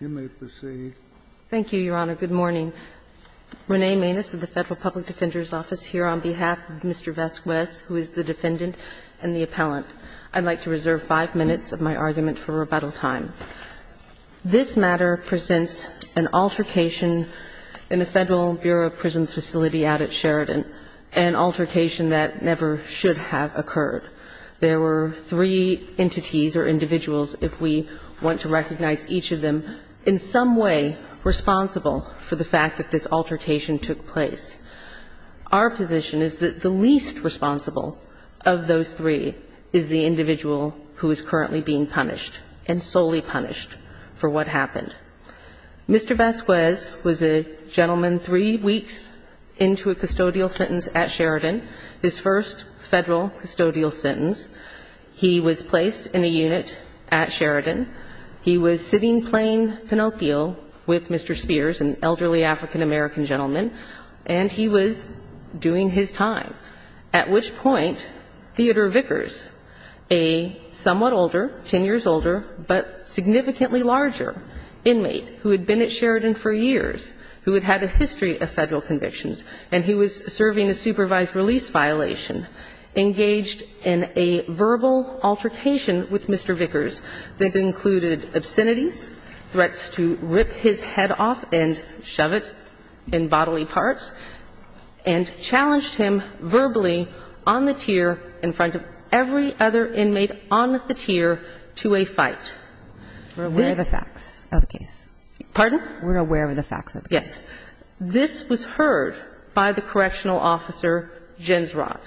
on behalf of Mr. Vasquez, who is the defendant and the appellant. I'd like to reserve five minutes of my argument for rebuttal time. This matter presents an altercation in a Federal Bureau of Prisons facility out at Sheridan, an altercation that never should have occurred. There were three entities or individuals, if we want to recognize each of them, who were involved in the altercation. There were three entities or individuals, if we want to recognize each of them, in some way responsible for the fact that this altercation took place. Our position is that the least responsible of those three is the individual who is currently being punished, and solely punished for what happened. Mr. Vasquez was a gentleman three weeks into a custodial sentence at Sheridan, his first Federal custodial sentence. He was placed in a unit at Sheridan. He was sitting playing Pinocchio with Mr. Spears, an elderly African-American gentleman, and he was doing his time, at which point Theodore Vickers, a somewhat older, 10 years older, but significantly larger, inmate who had been at Sheridan for years, who had had a history of Federal convictions, and he was serving a supervised release violation, engaged in a verbal altercation with Mr. Vickers that included obscenities, threats to rip his head off and shove it in bodily parts, and challenged him verbally on the tier in front of every other inmate on the tier to a fight. We're aware of the facts of the case. Pardon? We're aware of the facts of the case. Yes. This was heard by the correctional officer, Gensrod.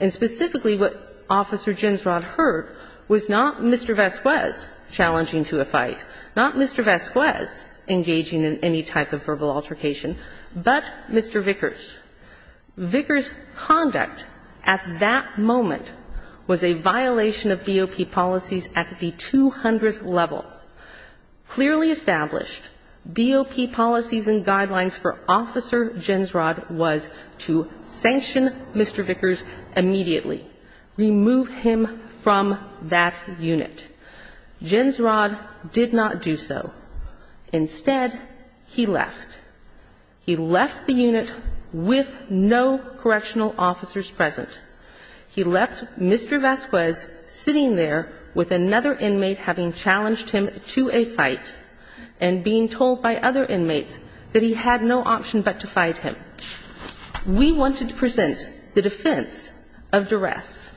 And specifically, what Officer Gensrod heard was not Mr. Vasquez challenging to a fight, not Mr. Vasquez engaging in any type of verbal altercation, but Mr. Vickers. Vickers' conduct at that moment was a violation of BOP policies at the 200th level. Clearly established, BOP policies and guidelines for Officer Gensrod was to sanction Mr. Vickers immediately, remove him from that unit. Gensrod did not do so. Instead, he left. He left the unit with no correctional officers present. He left Mr. Vasquez sitting there with another inmate having challenged him verbally to a fight and being told by other inmates that he had no option but to fight him. We wanted to present the defense of duress,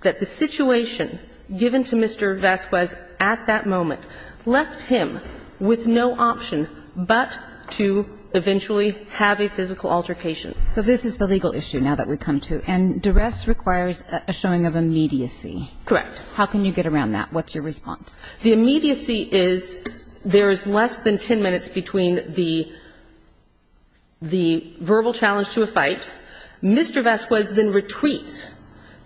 that the situation given to Mr. Vasquez at that moment left him with no option but to eventually have a physical altercation. So this is the legal issue now that we come to, and duress requires a showing of immediacy. Correct. How can you get around that? What's your response? The immediacy is there is less than 10 minutes between the verbal challenge to a fight. Mr. Vasquez then retreats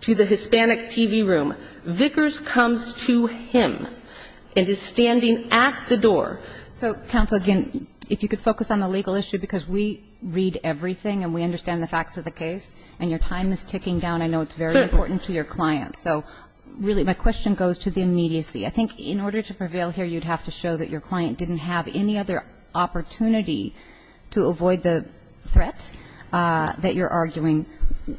to the Hispanic TV room. Vickers comes to him and is standing at the door. So, Counsel, again, if you could focus on the legal issue, because we read everything and we understand the facts of the case, and your time is ticking down. I know it's very important to your clients. So, really, my question goes to the immediacy. I think in order to prevail here, you'd have to show that your client didn't have any other opportunity to avoid the threat that you're arguing,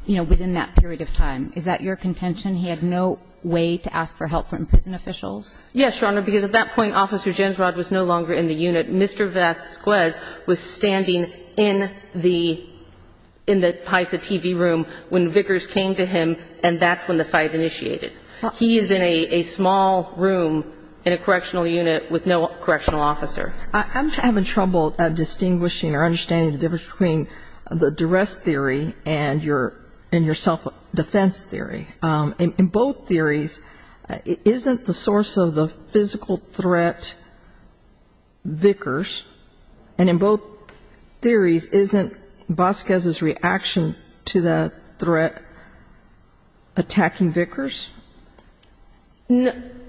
you know, within that period of time. Is that your contention? He had no way to ask for help from prison officials? Yes, Your Honor, because at that point, Officer Gensrod was no longer in the unit. Mr. Vasquez was standing in the PISA TV room when Vickers came to him, and that's when the fight initiated. He is in a small room in a correctional unit with no correctional officer. I'm having trouble distinguishing or understanding the difference between the duress theory and your self-defense theory. In both theories, isn't the source of the physical threat Vickers? And in both theories, isn't Vasquez's reaction to the threat attacking Vickers?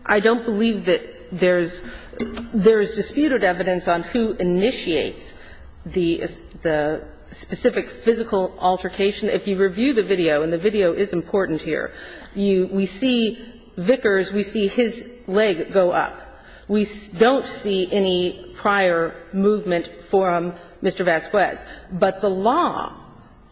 I don't believe that there's disputed evidence on who initiates the specific physical altercation. If you review the video, and the video is important here, we see Vickers, we see his leg go up. We don't see any prior movement from Mr. Vasquez. But the law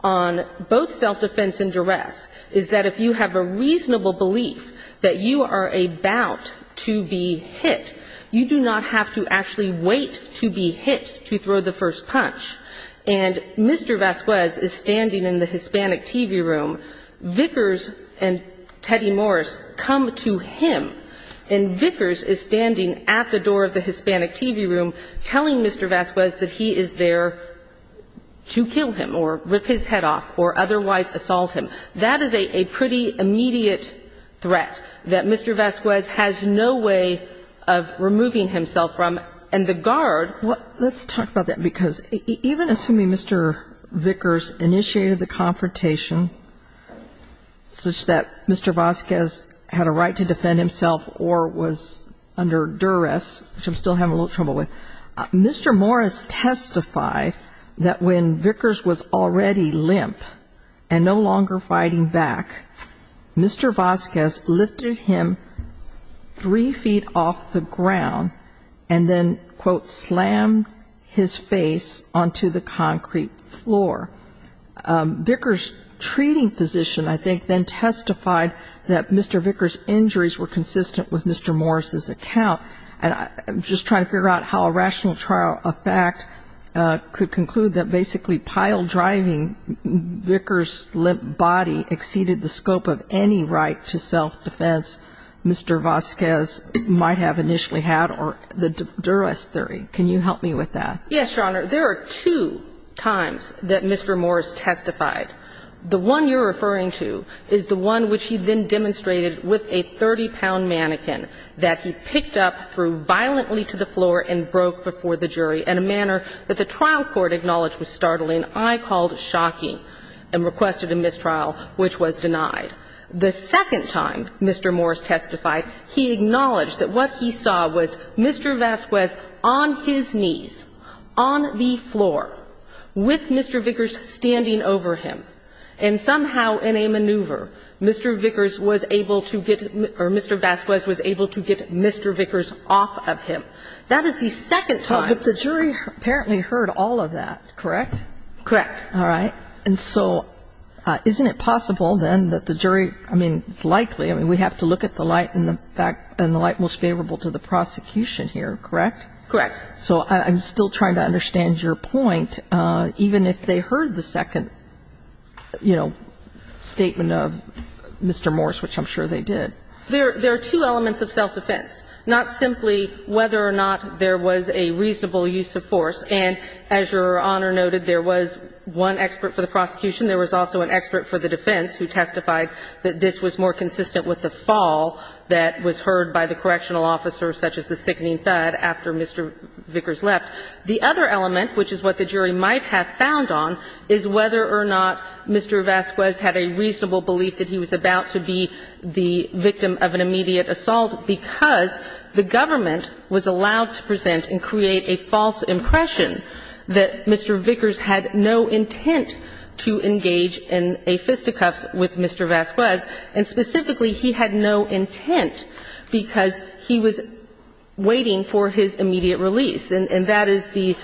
on both self-defense and duress is that if you have a reasonable belief that you are about to be hit, you do not have to actually wait to be hit to throw the first punch. And Mr. Vasquez is standing in the Hispanic TV room. Vickers and Teddy Morris come to him, and Vickers is standing at the door of the Hispanic TV room, telling Mr. Vasquez that he is there to kill him or rip his head off or otherwise assault him. That is a pretty immediate threat that Mr. Vasquez has no way of removing himself from. And the guard ---- Let's talk about that, because even assuming Mr. Vickers initiated the confrontation such that Mr. Vasquez had a right to defend himself or was under duress, which I'm still having a little trouble with, Mr. Morris testified that when Vickers was already limp and no longer fighting back, Mr. Vasquez lifted him three feet off the ground and then, quote, slammed his face onto the concrete floor. Vickers' treating physician, I think, then testified that Mr. Vickers' injuries were consistent with Mr. Morris' account. And I'm just trying to figure out how a rational trial of fact could conclude that basically pile-driving Vickers' limp body exceeded the scope of any right to self-defense Mr. Vasquez might have initially had or the duress theory. Can you help me with that? Yes, Your Honor. There are two times that Mr. Morris testified. The one you're referring to is the one which he then demonstrated with a 30-pound mannequin that he picked up, threw violently to the floor, and broke before the jury in a manner that the trial court acknowledged was startling. I called shocking and requested a mistrial, which was denied. The second time Mr. Morris testified, he acknowledged that what he saw was Mr. Vasquez on his knees, on the floor, with Mr. Vickers standing over him, and somehow in a maneuver, Mr. Vickers was able to get Mr. Vasquez was able to get Mr. Vickers off of him. That is the second time. But the jury apparently heard all of that, correct? Correct. All right. And so isn't it possible, then, that the jury – I mean, it's likely. I mean, we have to look at the light in the back and the light most favorable to the prosecution here, correct? Correct. So I'm still trying to understand your point. Even if they heard the second, you know, statement of Mr. Morris, which I'm sure they did. There are two elements of self-defense, not simply whether or not there was a reasonable use of force. And as Your Honor noted, there was one expert for the prosecution. There was also an expert for the defense who testified that this was more consistent with the fall that was heard by the correctional officer, such as the sickening thud after Mr. Vickers left. The other element, which is what the jury might have found on, is whether or not Mr. Vasquez had a reasonable belief that he was about to be the victim of an immediate assault because the government was allowed to present and create a false impression that Mr. Vickers had no intent to engage in a fisticuffs with Mr. Vasquez. And specifically, he had no intent because he was waiting for his immediate release. And that is the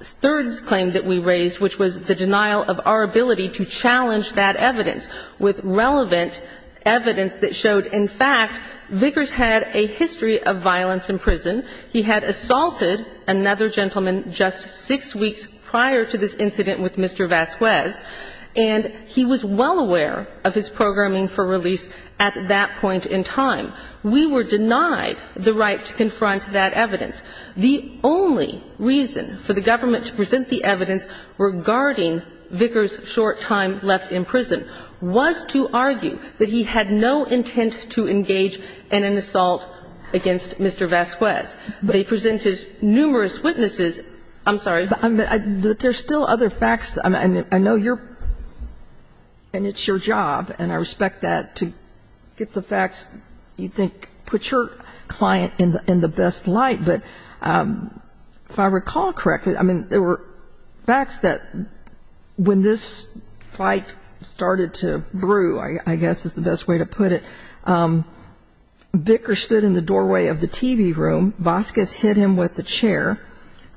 third claim that we raised, which was the denial of our ability to challenge that evidence with relevant evidence that showed, in fact, Vickers had a history of violence in prison. He had assaulted another gentleman just six weeks prior to this incident with Mr. Vasquez, and he was well aware of his programming for release at that point in time. We were denied the right to confront that evidence. The only reason for the government to present the evidence regarding Vickers' short time left in prison was to argue that he had no intent to engage in an assault against Mr. Vasquez. They presented numerous witnesses. I'm sorry. But there's still other facts. I know you're – and it's your job, and I respect that, to get the facts you think put your client in the best light. But if I recall correctly, I mean, there were facts that when this fight started to brew, I guess is the best way to put it. Vickers stood in the doorway of the TV room. Vasquez hit him with a chair.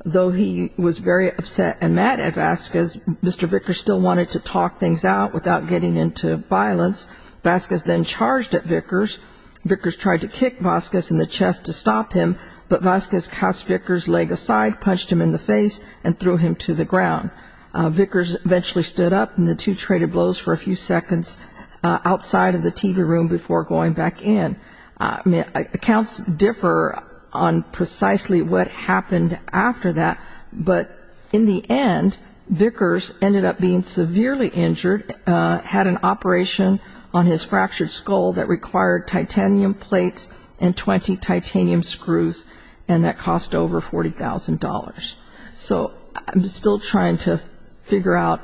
Though he was very upset and mad at Vasquez, Mr. Vickers still wanted to talk things out without getting into violence. Vasquez then charged at Vickers. Vickers tried to kick Vasquez in the chest to stop him, but Vasquez cast Vickers' leg aside, punched him in the face, and threw him to the ground. Vickers eventually stood up, and the two traded blows for a few seconds outside of the TV room before going back in. I mean, accounts differ on precisely what happened after that, but in the end, Vickers ended up being severely injured, had an operation on his fractured skull that required titanium plates and 20 titanium screws, and that cost over $40,000. So I'm still trying to figure out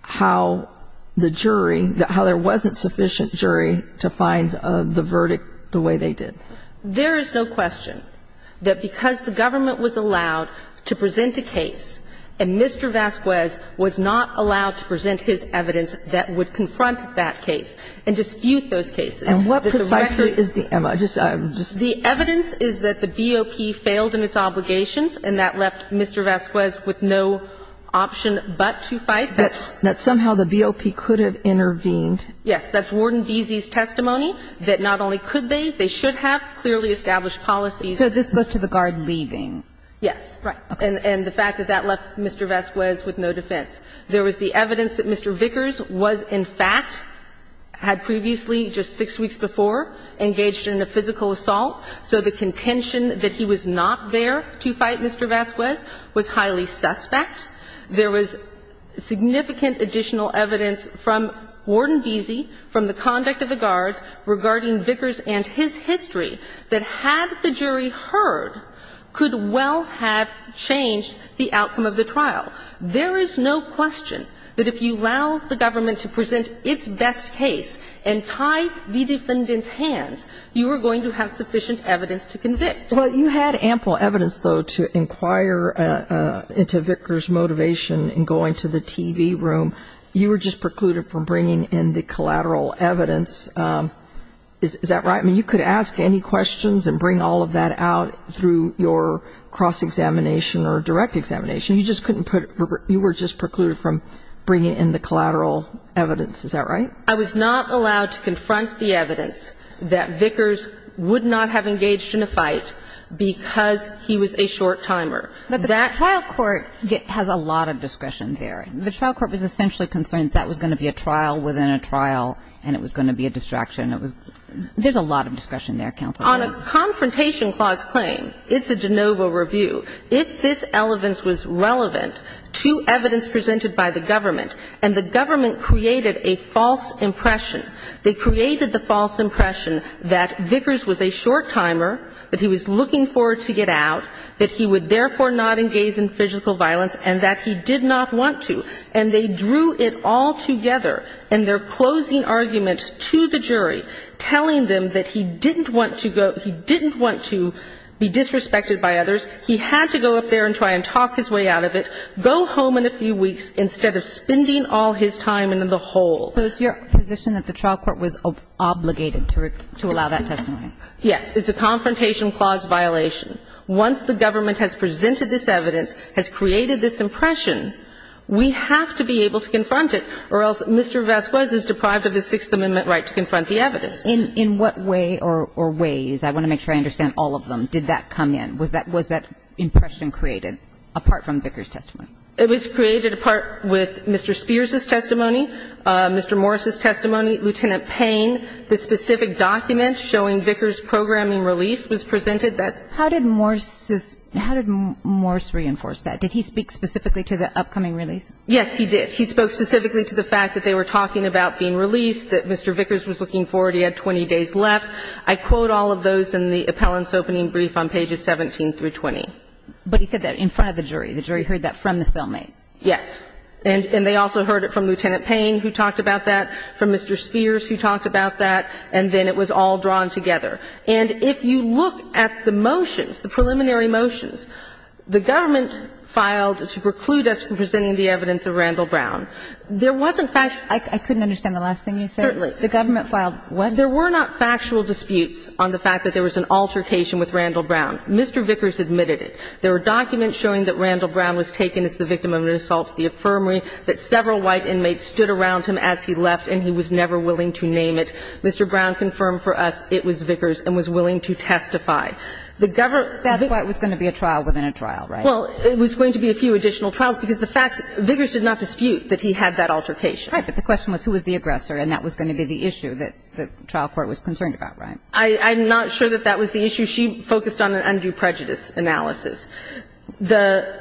how the jury, how there wasn't sufficient jury to find the verdict the way they did. There is no question that because the government was allowed to present a case and Mr. Vasquez was not allowed to present his evidence that would confront that case and dispute those cases. And what precisely is the evidence? The evidence is that the BOP failed in its obligations, and that left Mr. Vasquez with no option but to fight. That somehow the BOP could have intervened. Yes. That's Warden Beese's testimony, that not only could they, they should have clearly established policies. So this goes to the guard leaving. Yes. Right. And the fact that that left Mr. Vasquez with no defense. There was the evidence that Mr. Vickers was, in fact, had previously, just six weeks before, engaged in a physical assault, so the contention that he was not there to fight Mr. Vasquez was highly suspect. There was significant additional evidence from Warden Beese, from the conduct of the guards, regarding Vickers and his history, that had the jury heard could well have changed the outcome of the trial. There is no question that if you allow the government to present its best case and tie the defendant's hands, you are going to have sufficient evidence to convict. But you had ample evidence, though, to inquire into Vickers' motivation in going to the TV room. You were just precluded from bringing in the collateral evidence. Is that right? I mean, you could ask any questions and bring all of that out through your cross examination or direct examination. You just couldn't put, you were just precluded from bringing in the collateral evidence. Is that right? I was not allowed to confront the evidence that Vickers would not have engaged in a fight because he was a short timer. But the trial court has a lot of discretion there. The trial court was essentially concerned that was going to be a trial within a trial and it was going to be a distraction. There's a lot of discretion there, Counsel. On a confrontation clause claim, it's a de novo review. If this elements was relevant to evidence presented by the government and the government created a false impression, they created the false impression that Vickers was a short timer, that he was looking forward to get out, that he would therefore not engage in physical violence, and that he did not want to. And they drew it all together in their closing argument to the jury, telling them that he didn't want to go, he didn't want to be disrespected by others, he had to go up there and try and talk his way out of it, go home in a few weeks instead of spending all his time in the hole. So it's your position that the trial court was obligated to allow that testimony? Yes. It's a confrontation clause violation. Once the government has presented this evidence, has created this impression, we have to be able to confront it or else Mr. Vasquez is deprived of the Sixth Amendment right to confront the evidence. In what way or ways, I want to make sure I understand all of them, did that come in? Was that impression created apart from Vickers' testimony? It was created apart with Mr. Spears' testimony, Mr. Morris' testimony, Lieutenant Payne. The specific document showing Vickers' programming release was presented. How did Morris reinforce that? Did he speak specifically to the upcoming release? Yes, he did. He spoke specifically to the fact that they were talking about being released, that Mr. Vickers was looking forward, he had 20 days left. I quote all of those in the appellant's opening brief on pages 17 through 20. But he said that in front of the jury. The jury heard that from the cellmate. Yes. And they also heard it from Lieutenant Payne who talked about that, from Mr. Spears who talked about that. And then it was all drawn together. And if you look at the motions, the preliminary motions, the government filed to preclude us from presenting the evidence of Randall Brown. There wasn't factual. I couldn't understand the last thing you said. Certainly. The government filed what? There were not factual disputes on the fact that there was an altercation with Randall Brown. Mr. Vickers admitted it. There were documents showing that Randall Brown was taken as the victim of an assault at the infirmary, that several white inmates stood around him as he left and he was never willing to name it. Mr. Brown confirmed for us it was Vickers and was willing to testify. The government. That's why it was going to be a trial within a trial, right? Well, it was going to be a few additional trials because the facts, Vickers did not dispute that he had that altercation. Right, but the question was who was the aggressor and that was going to be the issue that the trial court was concerned about, right? I'm not sure that that was the issue. She focused on an undue prejudice analysis. The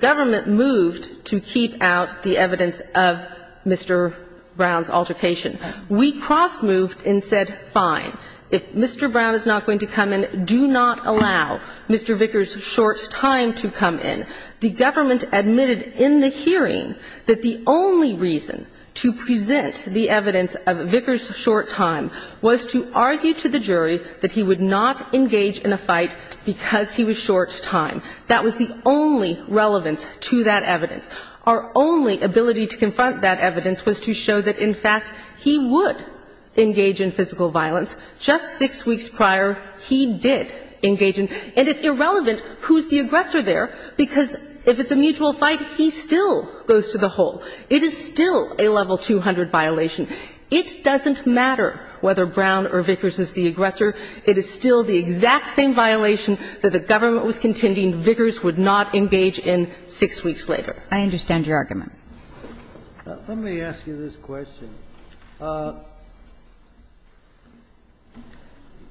government moved to keep out the evidence of Mr. Brown's altercation. We cross-moved and said, fine, if Mr. Brown is not going to come in, do not allow Mr. Vickers' short time to come in. The government admitted in the hearing that the only reason to present the evidence of Vickers' short time was to argue to the jury that he would not engage in a fight because he was short time. That was the only relevance to that evidence. Our only ability to confront that evidence was to show that, in fact, he would engage in physical violence. Just six weeks prior, he did engage in, and it's irrelevant who's the aggressor there because if it's a mutual fight, he still goes to the hole. It is still a level 200 violation. It doesn't matter whether Brown or Vickers is the aggressor. It is still the exact same violation that the government was contending Vickers would not engage in six weeks later. I understand your argument. Let me ask you this question.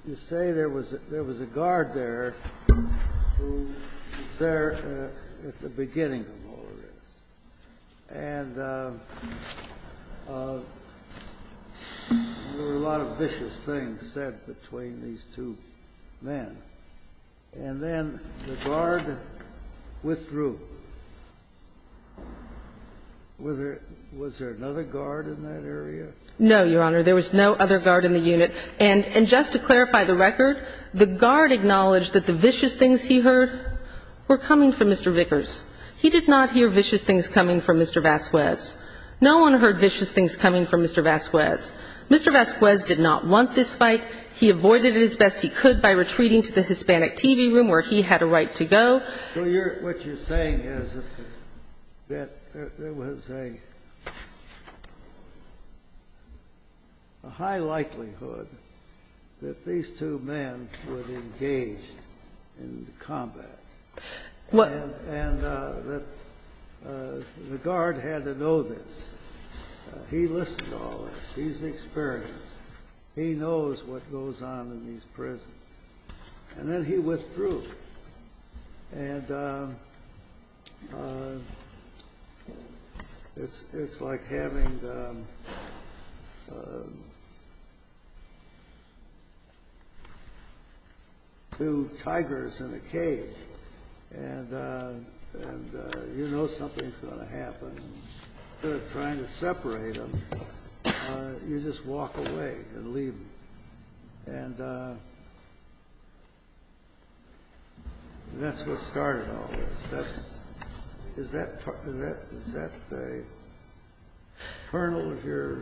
You say there was a guard there who was there at the beginning of all this. And there were a lot of vicious things said between these two men. And then the guard withdrew. Was there another guard in that area? No, Your Honor. There was no other guard in the unit. And just to clarify the record, the guard acknowledged that the vicious things he heard were coming from Mr. Vickers. He did not hear vicious things coming from Mr. Vasquez. No one heard vicious things coming from Mr. Vasquez. Mr. Vasquez did not want this fight. He avoided it as best he could by retreating to the Hispanic TV room where he had a right to go. So what you're saying is that there was a high likelihood that these two men would engage in combat. And the guard had to know this. He listened to all this. He's experienced. He knows what goes on in these prisons. And then he withdrew. And it's like having two tigers in a cage. And you know something's going to happen. Instead of trying to separate them, you just walk away and leave them. And that's what started all this. Is that the kernel of your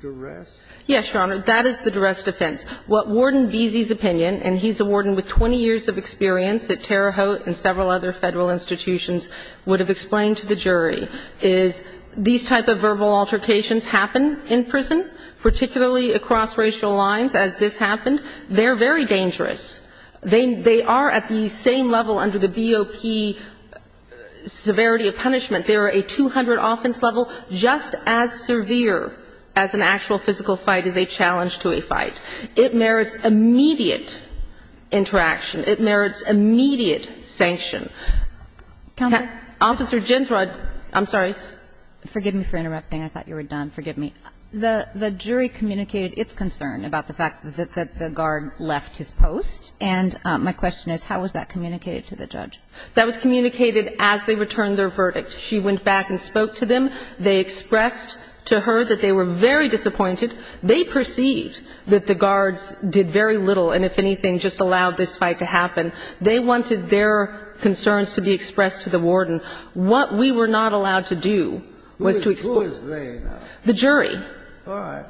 duress? Yes, Your Honor. That is the duress defense. What Warden Beezy's opinion, and he's a warden with 20 years of experience at Terre Haute and several other Federal institutions, would have explained to the jury, is these type of verbal altercations happen in prison, particularly across racial lines as this happened. They're very dangerous. They are at the same level under the BOP severity of punishment. They are a 200 offense level. Just as severe as an actual physical fight is a challenge to a fight. It merits immediate interaction. It merits immediate sanction. Counselor? Officer Ginthrod. I'm sorry. Forgive me for interrupting. I thought you were done. Forgive me. The jury communicated its concern about the fact that the guard left his post. And my question is, how was that communicated to the judge? That was communicated as they returned their verdict. She went back and spoke to them. They expressed to her that they were very disappointed. They perceived that the guards did very little and, if anything, just allowed this fight to happen. They wanted their concerns to be expressed to the warden. What we were not allowed to do was to explain. Who is they now? The jury. All right.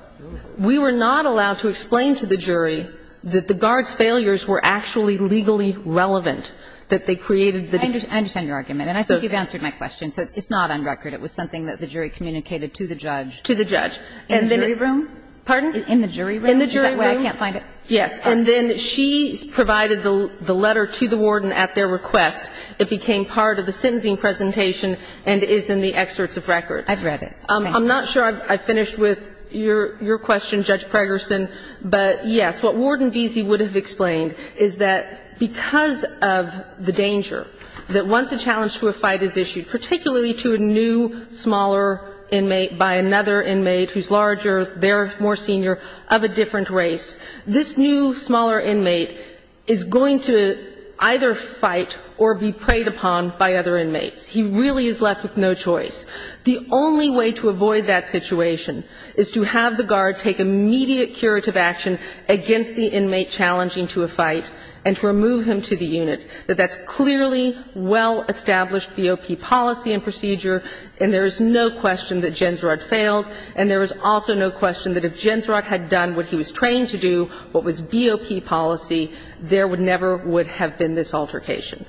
We were not allowed to explain to the jury that the guards' failures were actually legally relevant, that they created the defense. I understand your argument. And I think you've answered my question. So it's not on record. It was something that the jury communicated to the judge. To the judge. In the jury room? Pardon? In the jury room? In the jury room. Is that why I can't find it? Yes. And then she provided the letter to the warden at their request. It became part of the sentencing presentation and is in the excerpts of record. I've read it. I'm not sure I finished with your question, Judge Pregerson, but, yes, what Warden Veazey would have explained is that because of the danger that once a challenge to a fight is issued, particularly to a new, smaller inmate by another inmate who's larger, they're more senior, of a different race, this new, smaller inmate is going to either fight or be preyed upon by other inmates. He really is left with no choice. The only way to avoid that situation is to have the guard take immediate curative action against the inmate challenging to a fight and to remove him to the unit. That that's clearly well-established BOP policy and procedure, and there is no question that Jensrod failed, and there is also no question that if Jensrod had done what he was trained to do, what was BOP policy, there never would have been this altercation.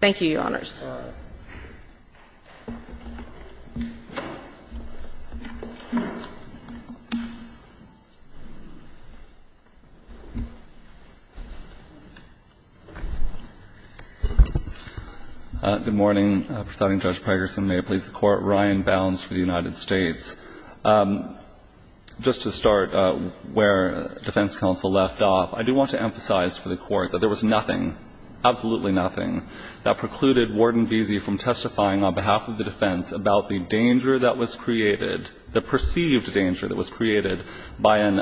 Thank you, Your Honors. All right. Good morning. Presiding Judge Pregerson, may it please the Court. Ryan Bounds for the United States. Just to start where defense counsel left off, I do want to emphasize for the Court that there was nothing, absolutely nothing, that precluded Warden Veazey from testifying on behalf of the defense about the danger that was created, the perceived danger that was created by an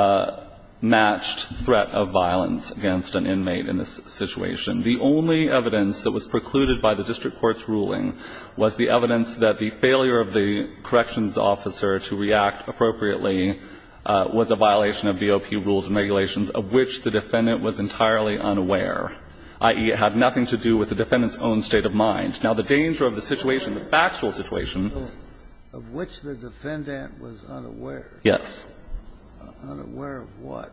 unmatched threat of violence against an inmate in this situation. The only evidence that was precluded by the district court's ruling was the evidence that the failure of the corrections officer to react appropriately was a violation of BOP rules and regulations, of which the defendant was entirely unaware, i.e., it had nothing to do with the defendant's own state of mind. Now, the danger of the situation, the factual situation. Of which the defendant was unaware. Yes. Unaware of what?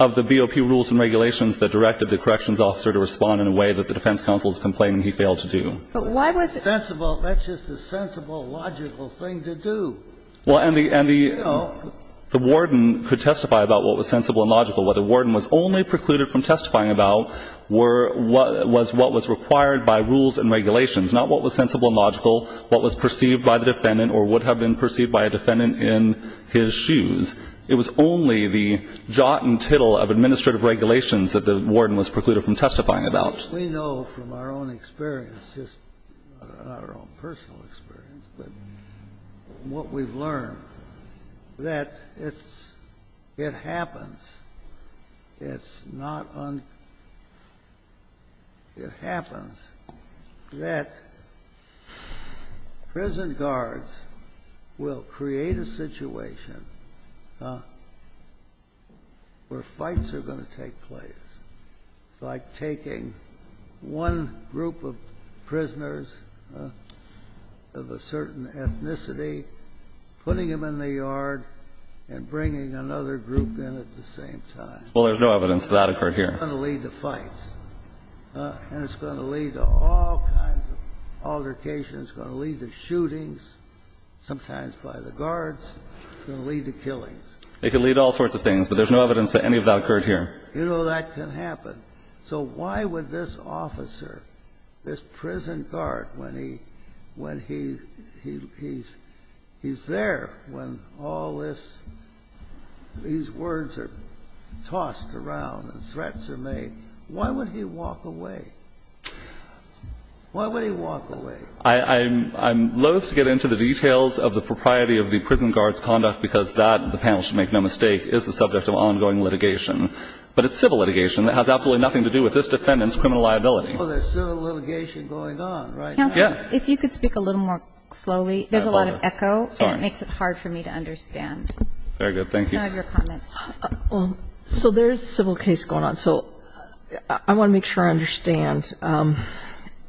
Of the BOP rules and regulations that directed the corrections officer to respond in a way that the defense counsel is complaining he failed to do. But why was it? That's just a sensible, logical thing to do. Well, and the warden could testify about what was sensible and logical. What the warden was only precluded from testifying about were what was required by rules and regulations, not what was sensible and logical, what was perceived by the defendant or would have been perceived by a defendant in his shoes. It was only the jot and tittle of administrative regulations that the warden was precluded from testifying about. We know from our own experience, just our own personal experience, but what we've learned that it's — it happens. It's not un — it happens that prison guards will create a situation where fights are going to take place. It's like taking one group of prisoners of a certain ethnicity, putting it in the yard, and bringing another group in at the same time. Well, there's no evidence that that occurred here. And it's going to lead to fights. And it's going to lead to all kinds of altercations. It's going to lead to shootings, sometimes by the guards. It's going to lead to killings. It could lead to all sorts of things, but there's no evidence that any of that occurred here. You know, that can happen. So why would this officer, this prison guard, when he — when he's there, when all this — these words are tossed around and threats are made, why would he walk away? Why would he walk away? I'm loath to get into the details of the propriety of the prison guard's conduct because that, the panel should make no mistake, is the subject of ongoing litigation. But it's civil litigation that has absolutely nothing to do with this defendant's criminal liability. Well, there's civil litigation going on right now. Yes. Counsel, if you could speak a little more slowly. There's a lot of echo. Sorry. And it makes it hard for me to understand. Very good. Thank you. Some of your comments. Well, so there is a civil case going on. So I want to make sure I understand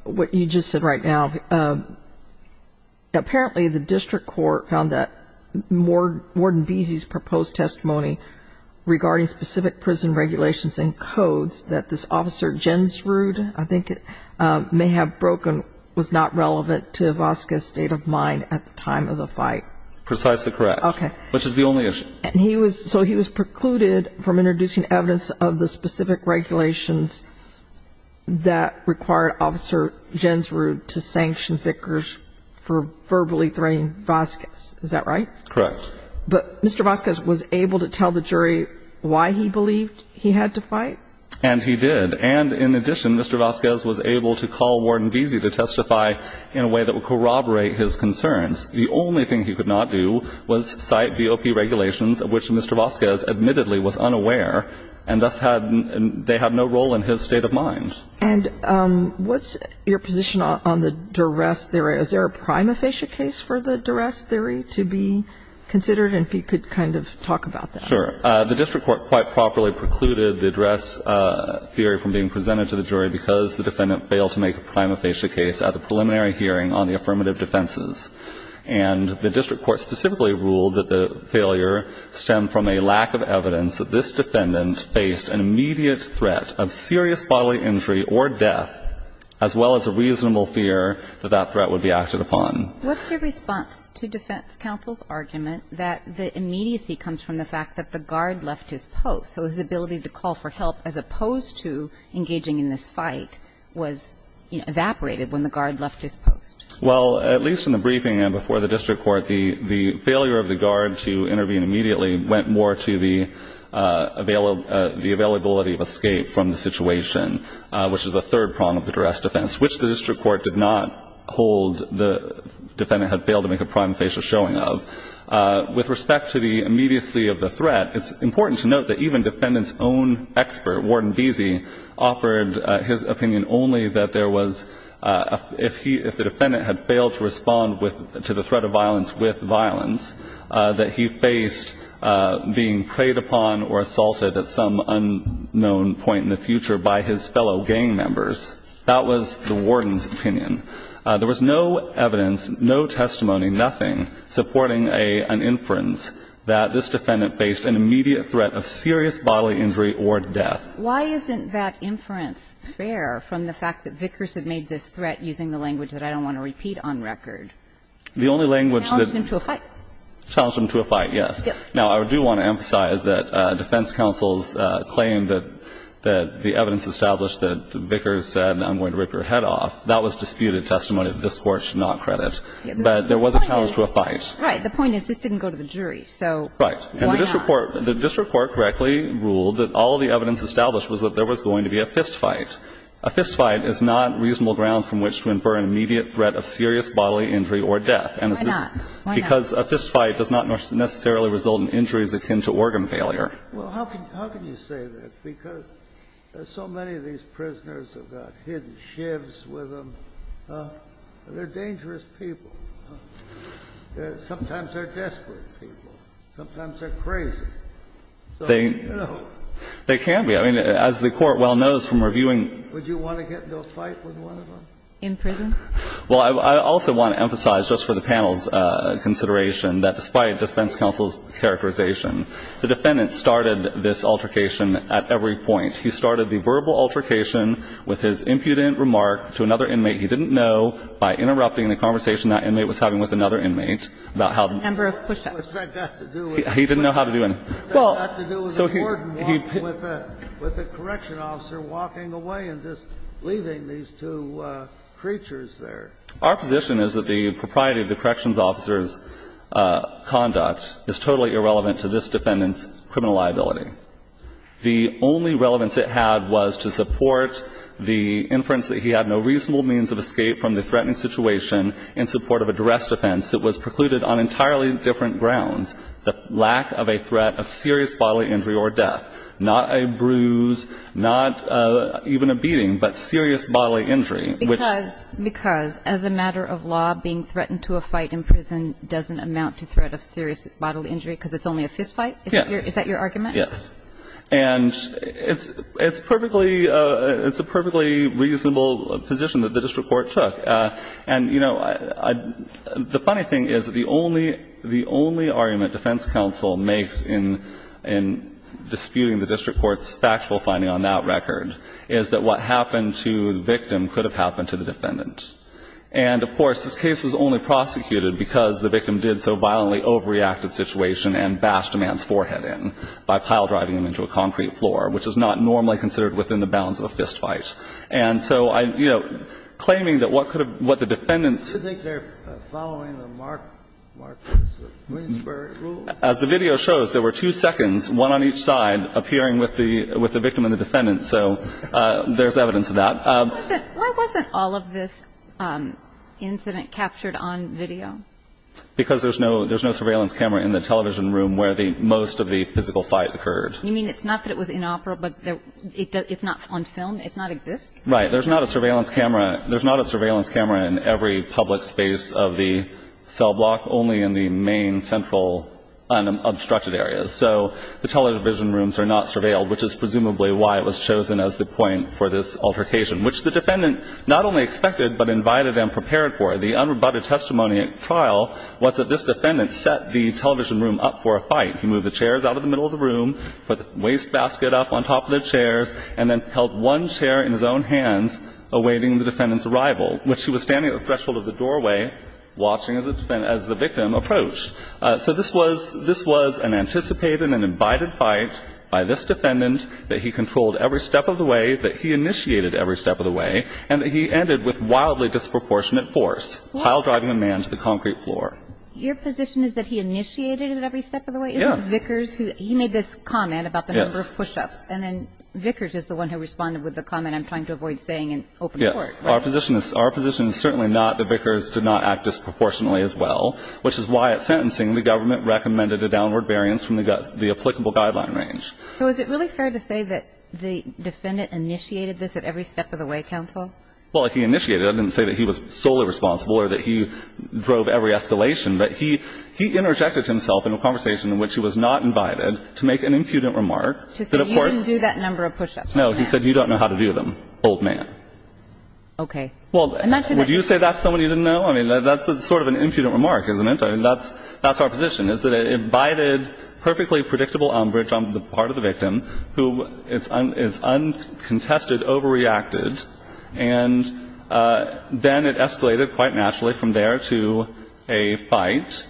what you just said right now. I just want to say that, apparently, the district court found that Warden Beasley's proposed testimony regarding specific prison regulations and codes that this Officer Jensrud, I think, may have broken, was not relevant to Vazquez's state of mind at the time of the fight. Precisely correct. Okay. Which is the only issue. And he was — so he was precluded from introducing the evidence of the specific regulations that required Officer Jensrud to sanction Vickers for verbally threatening Vazquez. Is that right? Correct. But Mr. Vazquez was able to tell the jury why he believed he had to fight? And he did. And, in addition, Mr. Vazquez was able to call Warden Beasley to testify in a way that would corroborate his concerns. The only thing he could not do was cite DOP regulations, of which Mr. Vazquez admittedly was unaware, and thus had — they had no role in his state of mind. And what's your position on the duress theory? Is there a prima facie case for the duress theory to be considered and if you could kind of talk about that? Sure. The district court quite properly precluded the duress theory from being presented to the jury because the defendant failed to make a prima facie case at a preliminary hearing on the affirmative defenses. And the district court specifically ruled that the failure stemmed from a lack of evidence that this defendant faced an immediate threat of serious bodily injury or death, as well as a reasonable fear that that threat would be acted upon. What's your response to defense counsel's argument that the immediacy comes from the fact that the guard left his post, so his ability to call for help as opposed to engaging in this fight was evaporated when the guard left his post? Well, at least in the briefing and before the district court, the failure of the guard to intervene immediately went more to the availability of escape from the situation, which is the third prong of the duress defense, which the district court did not hold the defendant had failed to make a prima facie showing of. With respect to the immediacy of the threat, it's important to note that even defendant's own expert, Warden Beese, offered his opinion only that there was — that if he — if the defendant had failed to respond with — to the threat of violence with violence, that he faced being preyed upon or assaulted at some unknown point in the future by his fellow gang members. That was the warden's opinion. There was no evidence, no testimony, nothing supporting an inference that this defendant faced an immediate threat of serious bodily injury or death. Why isn't that inference fair from the fact that Vickers had made this threat using the language that I don't want to repeat on record? The only language that — Challenged him to a fight. Challenged him to a fight, yes. Now, I do want to emphasize that defense counsel's claim that the evidence established that Vickers said, I'm going to rip your head off, that was disputed testimony that this Court should not credit. But there was a challenge to a fight. The point is this didn't go to the jury, so why not? Right. And the district court — the district court correctly ruled that all of the evidence established was that there was going to be a fistfight. A fistfight is not reasonable grounds from which to infer an immediate threat of serious bodily injury or death. And this is — Why not? Why not? Because a fistfight does not necessarily result in injuries akin to organ failure. Well, how can you say that? Because so many of these prisoners have got hidden shivs with them. They're dangerous people. Sometimes they're desperate people. Sometimes they're crazy. They can be. I mean, as the Court well knows from reviewing — Would you want to get into a fight with one of them? In prison? Well, I also want to emphasize, just for the panel's consideration, that despite defense counsel's characterization, the defendant started this altercation at every point. He started the verbal altercation with his impudent remark to another inmate he didn't know by interrupting the conversation that inmate was having with another inmate about how the — Number of push-ups. What's that got to do with — He didn't know how to do anything. What's that got to do with a warden walking with a — with a correction officer walking away and just leaving these two creatures there? Our position is that the propriety of the corrections officer's conduct is totally irrelevant to this defendant's criminal liability. The only relevance it had was to support the inference that he had no reasonable means of escape from the threatening situation in support of a duress defense that was precluded on entirely different grounds, the lack of a threat of serious bodily injury or death, not a bruise, not even a beating, but serious bodily injury. Because — because as a matter of law, being threatened to a fight in prison doesn't amount to threat of serious bodily injury because it's only a fistfight? Yes. Is that your argument? Yes. And it's — it's perfectly — it's a perfectly reasonable position that the district court took. And, you know, I — the funny thing is that the only — the only argument defense counsel makes in — in disputing the district court's factual finding on that record is that what happened to the victim could have happened to the defendant. And, of course, this case was only prosecuted because the victim did so violently overreacted situation and bashed a man's forehead in by pile-driving him into a concrete floor, which is not normally considered within the bounds of a fistfight. And so I — you know, claiming that what could have — what the defendants — Do you think they're following the Mark — Mark Winsberg rule? As the video shows, there were two seconds, one on each side, appearing with the — with the victim and the defendant. So there's evidence of that. Why wasn't — why wasn't all of this incident captured on video? Because there's no — there's no surveillance camera in the television room where the — most of the physical fight occurred. You mean it's not that it was in opera, but it's not on film? It's not exist? Right. There's not a surveillance camera — there's not a surveillance camera in every public space of the cell block, only in the main central unobstructed areas. So the television rooms are not surveilled, which is presumably why it was chosen as the point for this altercation, which the defendant not only expected but invited and prepared for. The unrebutted testimony at trial was that this defendant set the television room up for a fight. He moved the chairs out of the middle of the room, put the wastebasket up on top of the chairs, and then held one chair in his own hands, awaiting the defendant's arrival, which he was standing at the threshold of the doorway, watching as the victim approached. So this was — this was an anticipated and an invited fight by this defendant that he controlled every step of the way, that he initiated every step of the way, and that he ended with wildly disproportionate force while driving the man to the concrete floor. Your position is that he initiated it every step of the way? Yes. Isn't Vickers who — he made this comment about the number of push-ups. Yes. And then Vickers is the one who responded with the comment I'm trying to avoid saying in open court. Yes. Our position is — our position is certainly not that Vickers did not act disproportionately as well, which is why at sentencing the government recommended a downward variance from the applicable guideline range. So is it really fair to say that the defendant initiated this at every step of the way, counsel? Well, he initiated it. I didn't say that he was solely responsible or that he drove every escalation, but he interjected himself in a conversation in which he was not invited to make an impudent remark that, of course — To say you didn't do that number of push-ups. No. He said you don't know how to do them, old man. Okay. I mentioned that — Well, would you say that to somebody you didn't know? I mean, that's sort of an impudent remark, isn't it? I mean, that's — that's our position, is that an invited, perfectly predictable bridge on the part of the victim who is uncontested, overreacted, and then it escalated quite naturally from there to a fight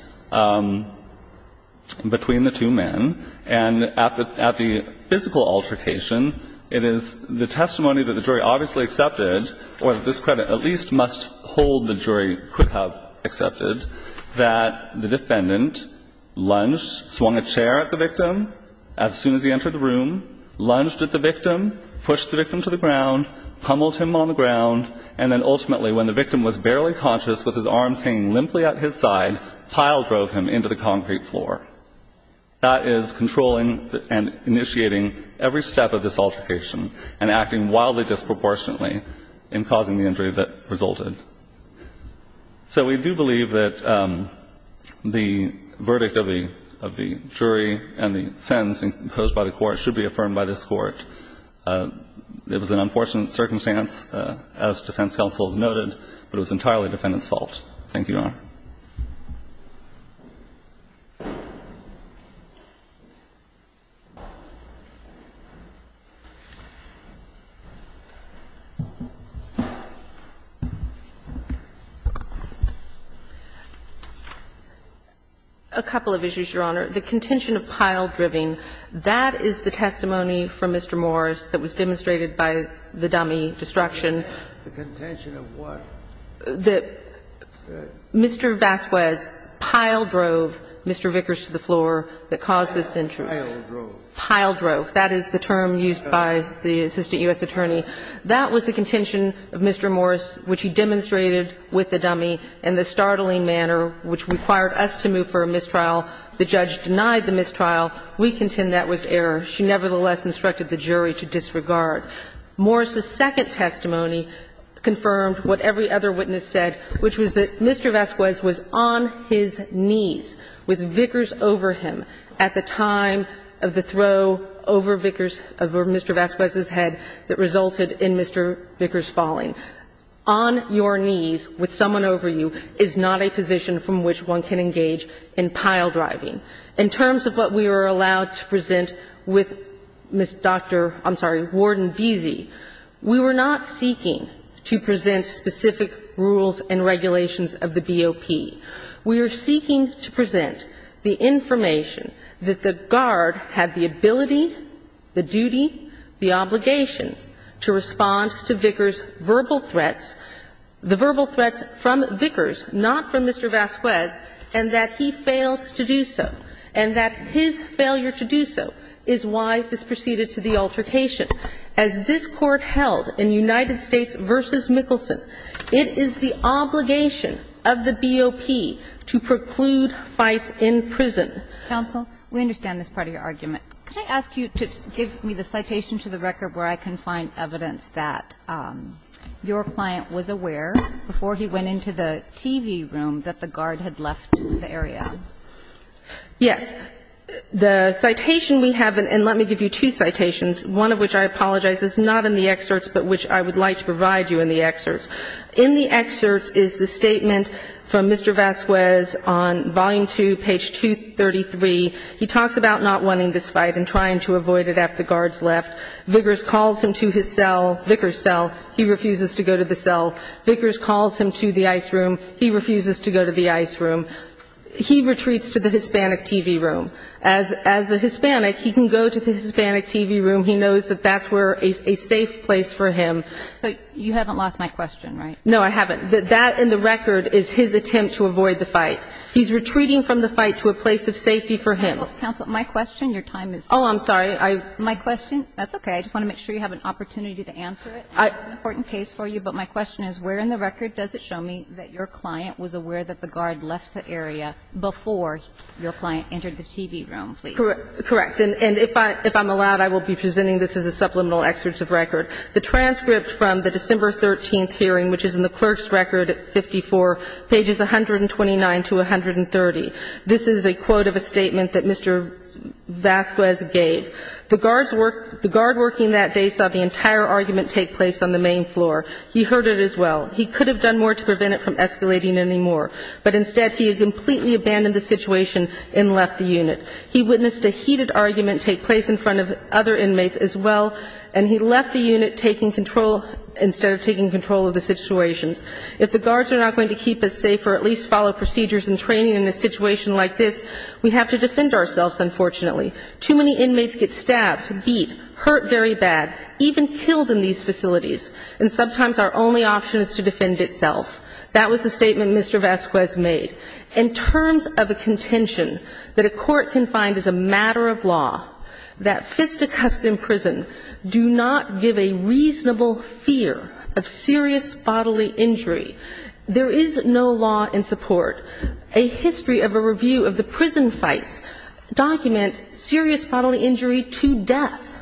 between the two men. And at the — at the physical altercation, it is the testimony that the jury obviously accepted, or this credit at least must hold the jury could have accepted, that the entered the room, lunged at the victim, pushed the victim to the ground, pummeled him on the ground, and then ultimately, when the victim was barely conscious with his arms hanging limply at his side, piledrove him into the concrete floor. That is controlling and initiating every step of this altercation and acting wildly disproportionately in causing the injury that resulted. So we do believe that the verdict of the jury and the sentence imposed by the court should be affirmed by this Court. It was an unfortunate circumstance, as defense counsel has noted, but it was entirely Thank you, Your Honor. A couple of issues, Your Honor. The contention of piledriving, that is the testimony from Mr. Morris that was demonstrated by the dummy destruction. The contention of what? The Mr. Vasquez piledrove Mr. Vickers to the floor that caused this injury. Piledrove. Piledrove. That is the term used by the assistant U.S. attorney. That was the contention of Mr. Morris, which he demonstrated with the dummy in the startling manner which required us to move for a mistrial. The judge denied the mistrial. We contend that was error. She nevertheless instructed the jury to disregard. Morris's second testimony confirmed what every other witness said, which was that Mr. Vasquez was on his knees with Vickers over him at the time of the throw over Vickers, over Mr. Vasquez's head that resulted in Mr. Vickers falling. On your knees with someone over you is not a position from which one can engage in piledriving. In terms of what we were allowed to present with Dr. — I'm sorry, Warden Beese, we were not seeking to present specific rules and regulations of the BOP. We are seeking to present the information that the guard had the ability, the duty, the obligation to respond to Vickers' verbal threats, the verbal threats from Vickers, not from Mr. Vasquez, and that he failed to do so. And that his failure to do so is why this proceeded to the altercation. As this Court held in United States v. Mickelson, it is the obligation of the BOP to preclude fights in prison. Kagan. We understand this part of your argument. Can I ask you to give me the citation to the record where I can find evidence that your client was aware before he went into the TV room that the guard had left the area? Yes. The citation we have, and let me give you two citations, one of which I apologize is not in the excerpts but which I would like to provide you in the excerpts. In the excerpts is the statement from Mr. Vasquez on volume 2, page 233. He talks about not wanting this fight and trying to avoid it after the guards left. Vickers calls him to his cell, Vickers' cell. He refuses to go to the cell. Vickers calls him to the ice room. He refuses to go to the ice room. He retreats to the Hispanic TV room. As a Hispanic, he can go to the Hispanic TV room. He knows that that's where a safe place for him. So you haven't lost my question, right? No, I haven't. That in the record is his attempt to avoid the fight. He's retreating from the fight to a place of safety for him. Counsel, my question, your time is up. Oh, I'm sorry. My question, that's okay. I just want to make sure you have an opportunity to answer it. It's an important case for you. But my question is, where in the record does it show me that your client was aware that the guard left the area before your client entered the TV room, please? Correct. And if I'm allowed, I will be presenting this as a supplemental excerpt of record. The transcript from the December 13th hearing, which is in the clerk's record, 54, pages 129 to 130, this is a quote of a statement that Mr. Vasquez gave. The guard working that day saw the entire argument take place on the main floor. He heard it as well. He could have done more to prevent it from escalating anymore, but instead he had completely abandoned the situation and left the unit. He witnessed a heated argument take place in front of other inmates as well, and he left the unit taking control, instead of taking control of the situations. If the guards are not going to keep us safe or at least follow procedures and training in a situation like this, we have to defend ourselves, unfortunately. Too many inmates get stabbed, beat, hurt very bad, even killed in these facilities, and sometimes our only option is to defend itself. That was the statement Mr. Vasquez made. In terms of a contention that a court can find is a matter of law, that fisticuffs in prison do not give a reasonable fear of serious bodily injury. There is no law in support. A history of a review of the prison fights document serious bodily injury to death,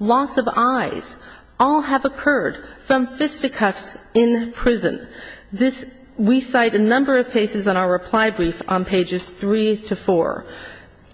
loss of eyes, all have occurred from fisticuffs in prison. This we cite a number of cases in our reply brief on pages 3 to 4.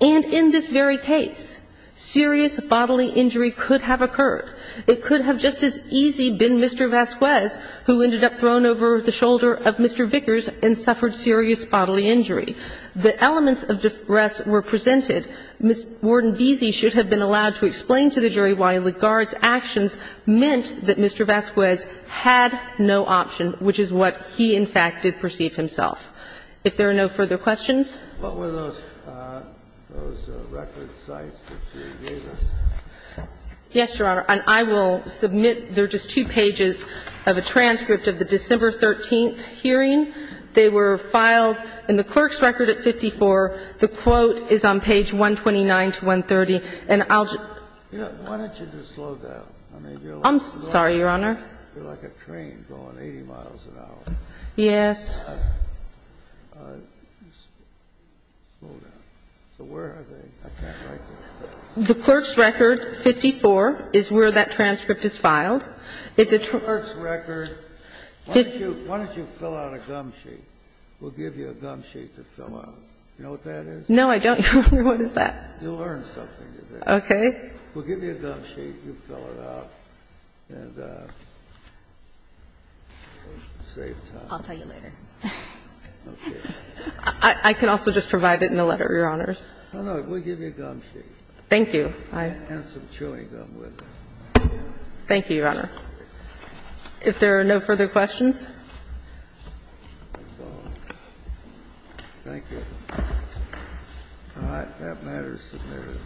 And in this very case, serious bodily injury could have occurred. It could have just as easy been Mr. Vasquez, who ended up thrown over the shoulder of Mr. Vickers and suffered serious bodily injury. The elements of the arrest were presented. Ms. Warden Beese should have been allowed to explain to the jury why the guards' actions meant that Mr. Vasquez had no option, which is what he, in fact, did perceive himself. If there are no further questions. Kennedy. What were those record sites that you gave us? Yes, Your Honor. And I will submit. They're just two pages of a transcript of the December 13th hearing. They were filed in the clerk's record at 54. The quote is on page 129 to 130. And I'll just. Why don't you just slow down? I'm sorry, Your Honor. You're like a train going 80 miles an hour. Yes. Slow down. So where are they? I can't write that down. The clerk's record, 54, is where that transcript is filed. It's a. The clerk's record. Why don't you fill out a gum sheet? We'll give you a gum sheet to fill out. You know what that is? No, I don't. What is that? You'll learn something today. Okay. We'll give you a gum sheet. You fill it out. And save time. I'll tell you later. Okay. I can also just provide it in the letter, Your Honors. No, no. We'll give you a gum sheet. Thank you. And some chewing gum with it. Thank you, Your Honor. If there are no further questions. That's all. Thank you. All right. That matter is submitted.